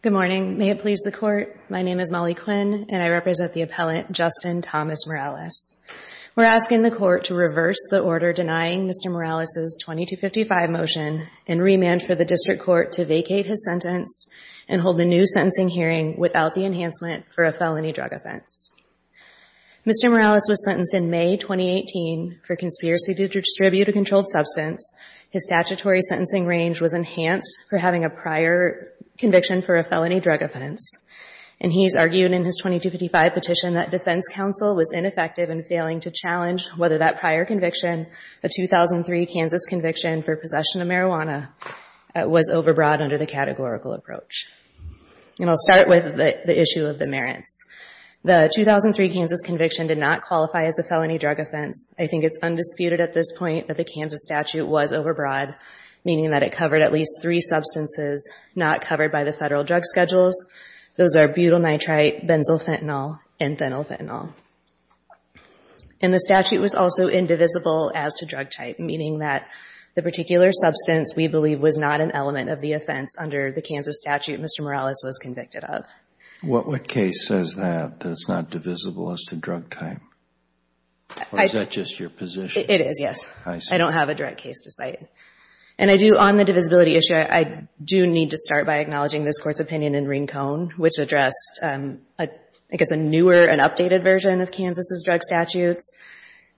Good morning. May it please the court. My name is Molly Quinn, and I represent the appellant Justin Thomas Morales. We're asking the court to reverse the order denying Mr. Morales' 2255 motion and remand for the district court to vacate his sentence and hold a new sentencing hearing without the enhancement for a felony drug offense. Mr. Morales was sentenced in May 2018 for conspiracy to distribute a controlled substance. His statutory sentencing range was enhanced for having a prior conviction for a felony drug offense, and he's argued in his 2255 petition that defense counsel was ineffective in failing to challenge whether that prior conviction, the 2003 Kansas conviction for possession of marijuana, was overbroad under the categorical approach. And I'll start with the issue of the merits. The 2003 Kansas conviction did not qualify as a felony drug offense. I think it's undisputed at this point that the Kansas statute was overbroad, meaning that it covered at least three substances not covered by the federal drug schedules. Those are butyl nitrite, benzylfentanyl, and phenylfentanyl. And the statute was also indivisible as to drug type, meaning that the particular substance, we believe, was not an element of the offense under the Kansas statute Mr. Morales was convicted of. What case says that, that it's not divisible as to drug type? Or is that just your position? It is, yes. I see. I don't have a direct case to cite. And I do, on the divisibility issue, I do need to start by acknowledging this Court's opinion in Rincon, which addressed, I guess, a newer and updated version of Kansas' drug statutes,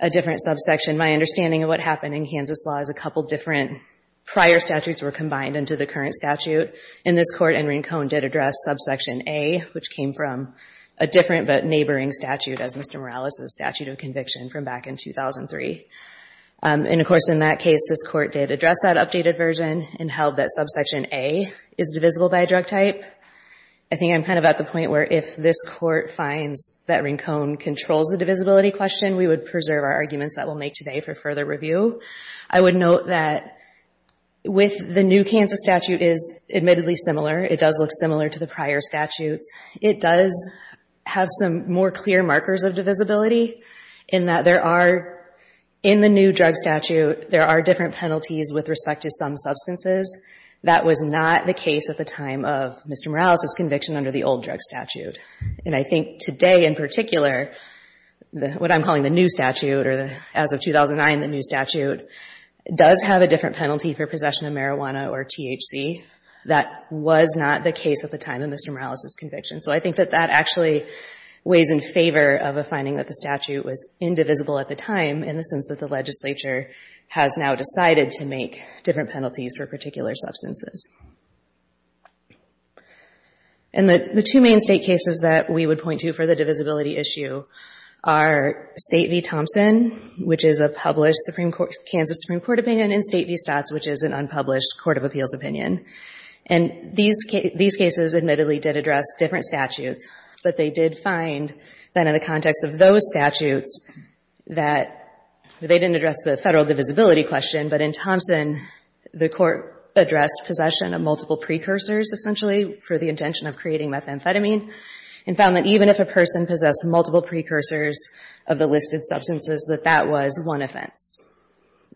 a different subsection. My understanding of what happened in Kansas law is a couple of different prior statutes were combined into the current statute. And this Court in Rincon did address subsection A, which came from a different but neighboring statute as Mr. Morales' statute of conviction from back in 2003. And, of course, in that case, this Court did address that updated version and held that subsection A is divisible by a drug type. I think I'm kind of at the point where if this Court finds that Rincon controls the divisibility question, we would preserve our arguments that we'll make today for further review. I would note that with the new Kansas statute is admittedly similar. It does look similar to the prior statutes. It does have some more clear markers of divisibility in that there are, in the new drug statute, there are different penalties with respect to some substances. That was not the case at the time of Mr. Morales' conviction under the old drug statute. And I think today, in particular, what I'm calling the new statute or as of 2009, the new statute does have a different penalty for possession of marijuana or THC. That was not the case at the time of Mr. Morales' conviction. So I think that that actually weighs in favor of a finding that the statute was indivisible at the time in the sense that the legislature has now decided to make different penalties for particular substances. And the two main State cases that we would point to for the divisibility issue are State v. Thompson, which is a published Kansas Supreme Court opinion, and State v. Stotts, which is an unpublished Court of Appeals opinion. And these cases admittedly did address different statutes, but they did find that in the context of those statutes that they didn't address the federal divisibility question, but in Thompson, the Court addressed possession of multiple precursors essentially for the intention of creating methamphetamine and found that even if a person possessed multiple precursors of the listed substances, that that was one offense.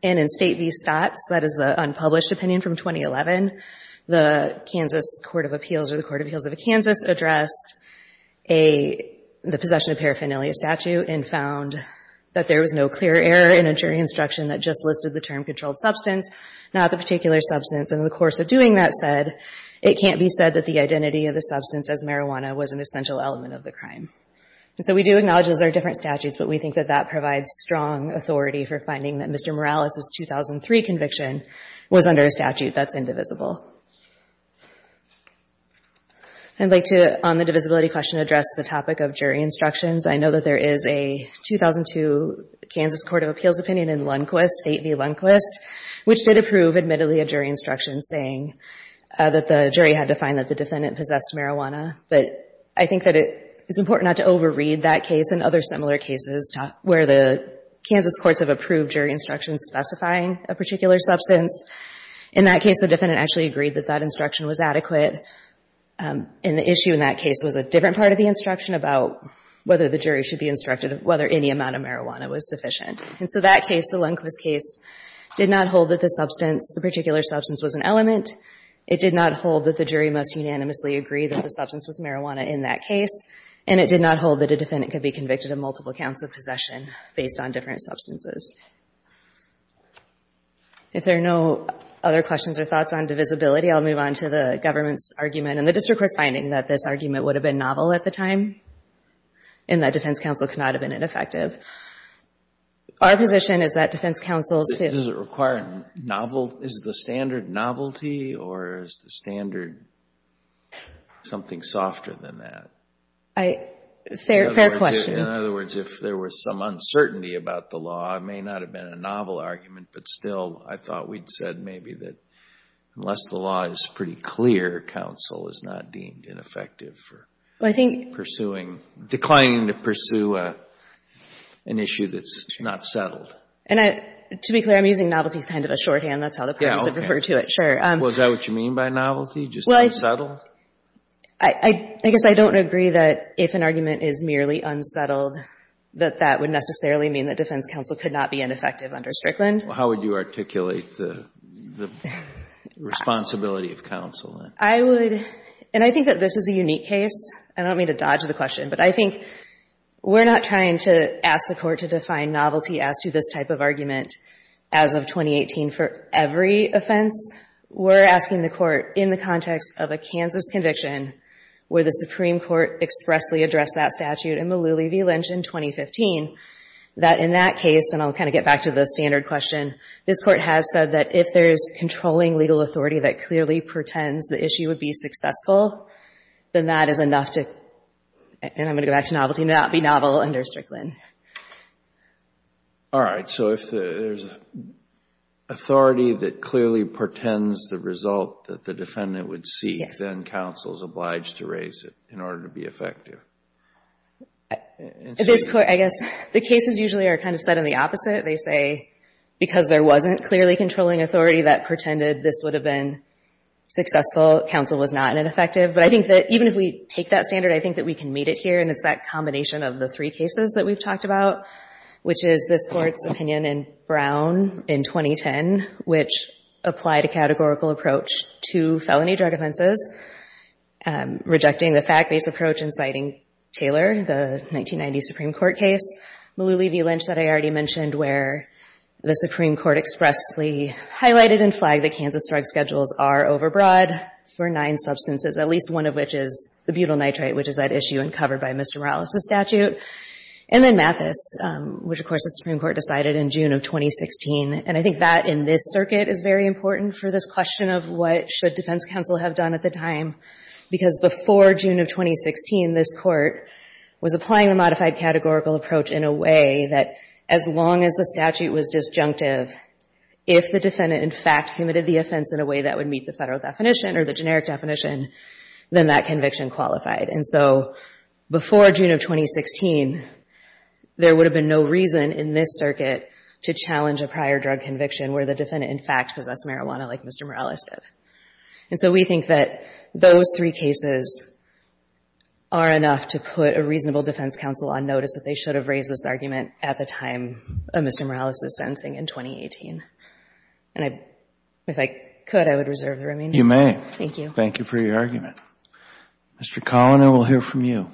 And in State v. Stotts, that is the unpublished opinion from 2011, the Kansas Court of Appeals or the Court of Appeals of Kansas addressed the possession of paraphernalia statute and found that there was no clear error in a jury instruction that just listed the term controlled substance, not the particular substance. And in the course of doing that, it can't be said that the identity of the substance as marijuana was an essential element of the crime. And so we do acknowledge those are different statutes, but we think that that provides strong authority for finding that Mr. Morales' 2003 conviction was under a statute that's indivisible. I'd like to, on the divisibility question, address the topic of jury instructions. I know that there is a 2002 Kansas Court of Appeals opinion in Lundquist, State v. Lundquist, which did approve, admittedly, a jury instruction saying that the jury had to find that the defendant possessed marijuana. But I think that it's important not to overread that case and other similar cases where the Kansas courts have approved jury instructions specifying a particular substance. In that case, the defendant actually agreed that that instruction was adequate. And the jury in that case was a different part of the instruction about whether the jury should be instructed whether any amount of marijuana was sufficient. And so that case, the Lundquist case, did not hold that the substance, the particular substance, was an element. It did not hold that the jury must unanimously agree that the substance was marijuana in that case. And it did not hold that a defendant could be convicted of multiple counts of possession based on different substances. If there are no other questions or thoughts on divisibility, I'll move on to the government's argument. And the district court's finding that this argument would have been novel at the time and that defense counsel cannot have been ineffective. Our position is that defense counsels could Doesn't it require novel? Is the standard novelty or is the standard something softer than that? Fair question. In other words, if there was some uncertainty about the law, it may not have been a novel argument. But still, I thought we'd said maybe that unless the law is pretty clear, counsel is not deemed ineffective for pursuing, declining to pursue an issue that's not settled. And I, to be clear, I'm using novelty as kind of a shorthand. That's how the parties would refer to it. Sure. Well, is that what you mean by novelty, just unsettled? I guess I don't agree that if an argument is merely unsettled, that that would necessarily mean that defense counsel could not be ineffective under Strickland. How would you articulate the responsibility of counsel? I would, and I think that this is a unique case. I don't mean to dodge the question, but I think we're not trying to ask the court to define novelty as to this type of argument as of 2018 for every offense. We're asking the court in the context of a Kansas conviction where the Supreme Court expressly addressed that statute in the Lulee v. Lynch in 2015, that in that case, and I'll kind of get back to the standard question, this court has said that if there's controlling legal authority that clearly portends the issue would be successful, then that is enough to, and I'm going to go back to novelty, not be novel under Strickland. All right. So if there's authority that clearly portends the result that the defendant would seek, then counsel is obliged to raise it in order to be effective. This court, I guess, the cases usually are kind of set in the opposite. They say because there wasn't clearly controlling authority that portended this would have been successful, counsel was not ineffective. But I think that even if we take that standard, I think that we can meet it here, and it's that combination of the three cases that we've talked about, which is this court's opinion in Brown in 2010, which applied a categorical approach to felony drug offenses, rejecting the fact-based approach inciting Taylor, the 1990 Supreme Court case, Lulee v Lynch that I already mentioned, where the Supreme Court expressly highlighted and flagged that Kansas drug schedules are overbroad for nine substances, at least one of which is the butyl nitrate, which is at issue and covered by Mr. Morales' statute, and then Mathis, which, of course, the Supreme Court decided in June of 2016. And I think that in this circuit is very important for this question of what should defense counsel have done at the time, because before June of 2016, this court was applying the modified categorical approach in a way that as long as the statute was disjunctive, if the defendant, in fact, committed the offense in a way that would meet the federal definition or the generic definition, then that conviction qualified. And so before June of 2016, there would have been no reason in this circuit to challenge a prior drug conviction where the defendant, in fact, possessed marijuana like Mr. Morales did. And so we think that those three cases are enough to put a reasonable defense counsel on notice that they should have raised this argument at the time of Mr. Morales' sentencing in 2018. And if I could, I would reserve the remaining time. Thank you. If you may. Thank you. Thank you for your argument. Mr. Collin, I will hear from you.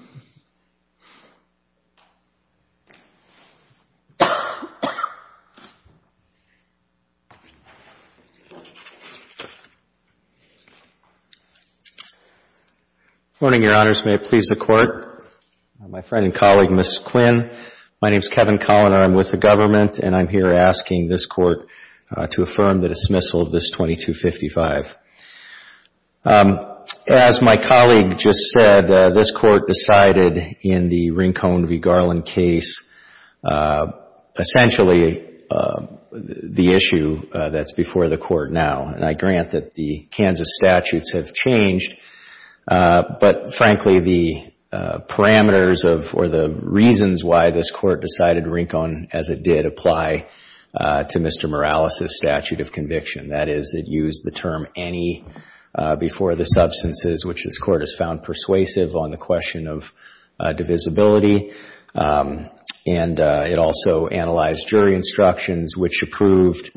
Good morning, Your Honors. May it please the Court. My friend and colleague, Ms. Quinn. My name is Kevin Collin. I'm with the government, and I'm here asking this Court to affirm the dismissal of this 2255. As my colleague just said, this Court decided in the Rincon v. Garland case essentially the issue that's before the Court now. And I grant that the Kansas statutes have changed, but frankly, the parameters of or the reasons why this as it did apply to Mr. Morales' statute of conviction. That is, it used the term any before the substances, which this Court has found persuasive on the question of divisibility. And it also analyzed jury instructions, which approved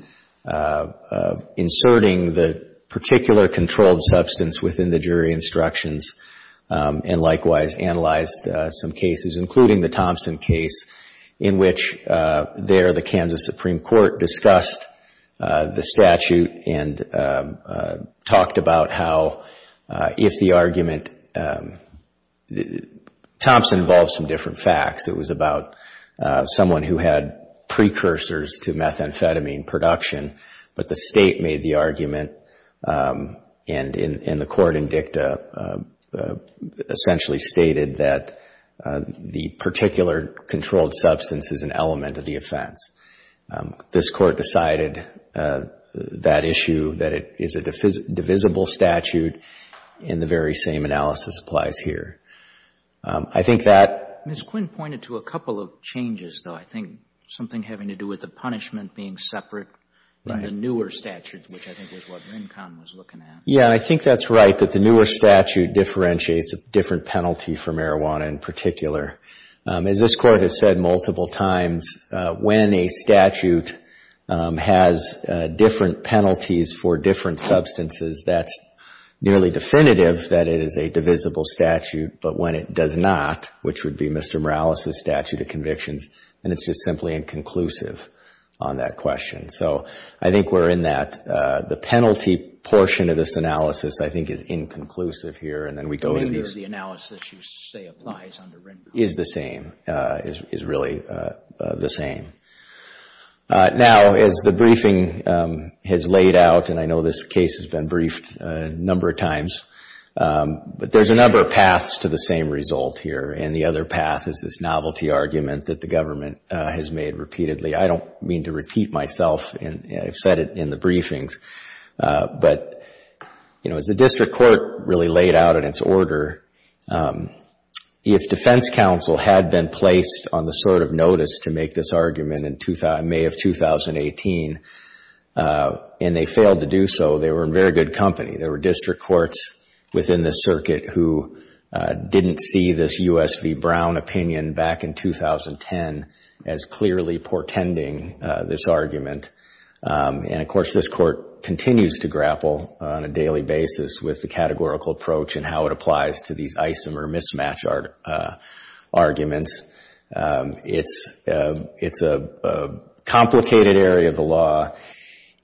inserting the particular controlled substance within the jury instructions, and likewise analyzed some cases, including the Thompson case, in which there the Kansas Supreme Court discussed the statute and talked about how if the argument... Thompson involved some different facts. It was about someone who had precursors to methamphetamine production, but the State made the argument, and the Court in dicta essentially stated that the particular controlled substance is an element of the offense. This Court decided that issue, that it is a divisible statute, and the very same analysis applies here. I think that... Mr. Quinn pointed to a couple of changes, though. I think something having to do with the punishment being separate in the newer statutes, which I think was what Rincon was looking at. Yeah, I think that's right, that the newer statute differentiates a different penalty for marijuana in particular. As this Court has said multiple times, when a statute has different penalties for different substances, that's nearly definitive that it is a divisible statute, but when it does not, which would be Mr. Morales' statute of convictions, then it's just simply inconclusive on that question. So, I think we're in that. The penalty portion of this analysis, I think, is inconclusive here, and then we go to these... The meaning of the analysis you say applies under Rincon. Is the same, is really the same. Now, as the briefing has laid out, and I know this case has been briefed a number of times, but there's a number of paths to the same result here, and the other path is this novelty argument that the government has made repeatedly. I don't mean to repeat myself. I've said it in the briefings, but as the district court really laid out in its order, if defense counsel had been placed on the sort of notice to make this argument in May of 2018, and they failed to do so, they were in very good company. There were district courts within the circuit who didn't see this U.S. v. Brown opinion back in 2010 as clearly portending this argument. And, of course, this court continues to grapple on a daily basis with the categorical approach and how it applies to these isomer mismatch arguments. It's a complicated area of the law,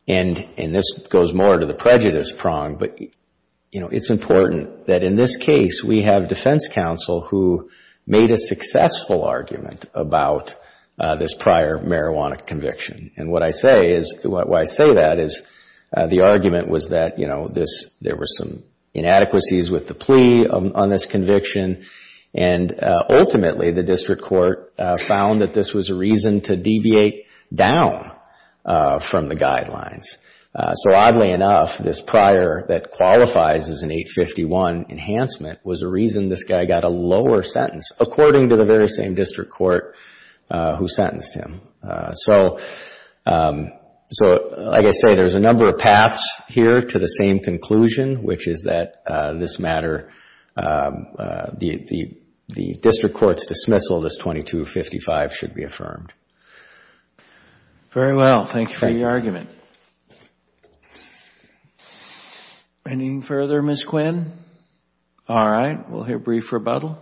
and this goes more to the prejudice prong, but it's important that in this case, we have defense counsel who made a successful argument about this prior marijuana conviction. And what I say that is the argument was that there were some inadequacies with the plea on this conviction, and ultimately, the district court found that this was a reason to deviate down from the guidelines. So, oddly enough, this prior that qualifies as an 851 enhancement was a reason this guy got a lower sentence, according to the very same district court who sentenced him. So, like I say, there's a number of paths here to the same conclusion, which is that this matter, the district court's dismissal of this 2255 should be affirmed. Very well. Thank you for your argument. Anything further, Ms. Quinn? All right. We'll hear brief rebuttal.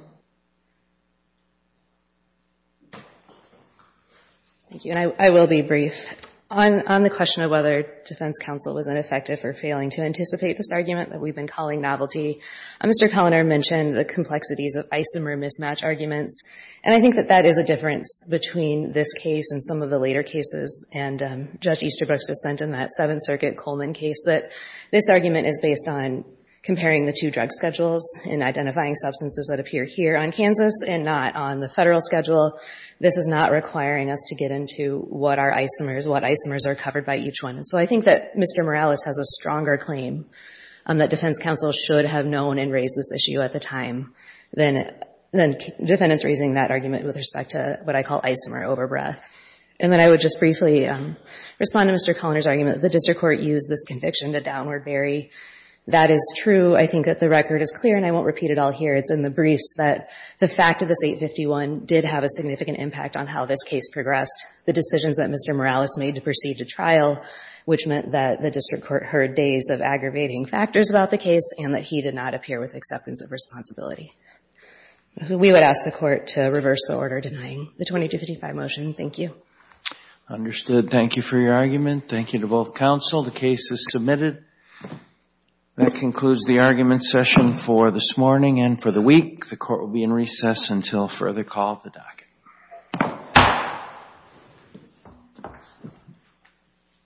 Thank you, and I will be brief. On the question of whether defense counsel was ineffective or failing to anticipate this argument that we've been calling novelty, Mr. Cullinan mentioned the complexities of isomer mismatch arguments, and I think that that is a difference between this case and some of the later cases, and Judge Easterbrook's dissent in that Seventh Circuit Coleman case, that this argument is based on comparing the two drug schedules and identifying substances that appear here on Kansas and not on the federal schedule. This is not requiring us to get into what are isomers, what isomers are covered by each one, and so I think that Mr. Morales has a stronger claim that defense counsel should have known and raised this issue at the time than defendants raising that argument with respect to what I call isomer overbreath. And then I would just briefly respond to Mr. Cullinan's argument that the district court used this conviction to downward bury. That is true. I think that the record is clear, and I won't repeat it all here. It's in the briefs that the fact of this 851 did have a significant impact on how this case progressed, the decisions that Mr. Morales made to proceed to trial, which meant that the district court heard days of aggravating factors about the case and that he did not appear with acceptance of responsibility. We would ask the Court to reverse the order denying the 2255 motion. Thank you. I understood. Thank you for your argument. Thank you to both counsel. The case is submitted. That concludes the argument session for this morning and for the week. The Court will be in recess until further call at the docket.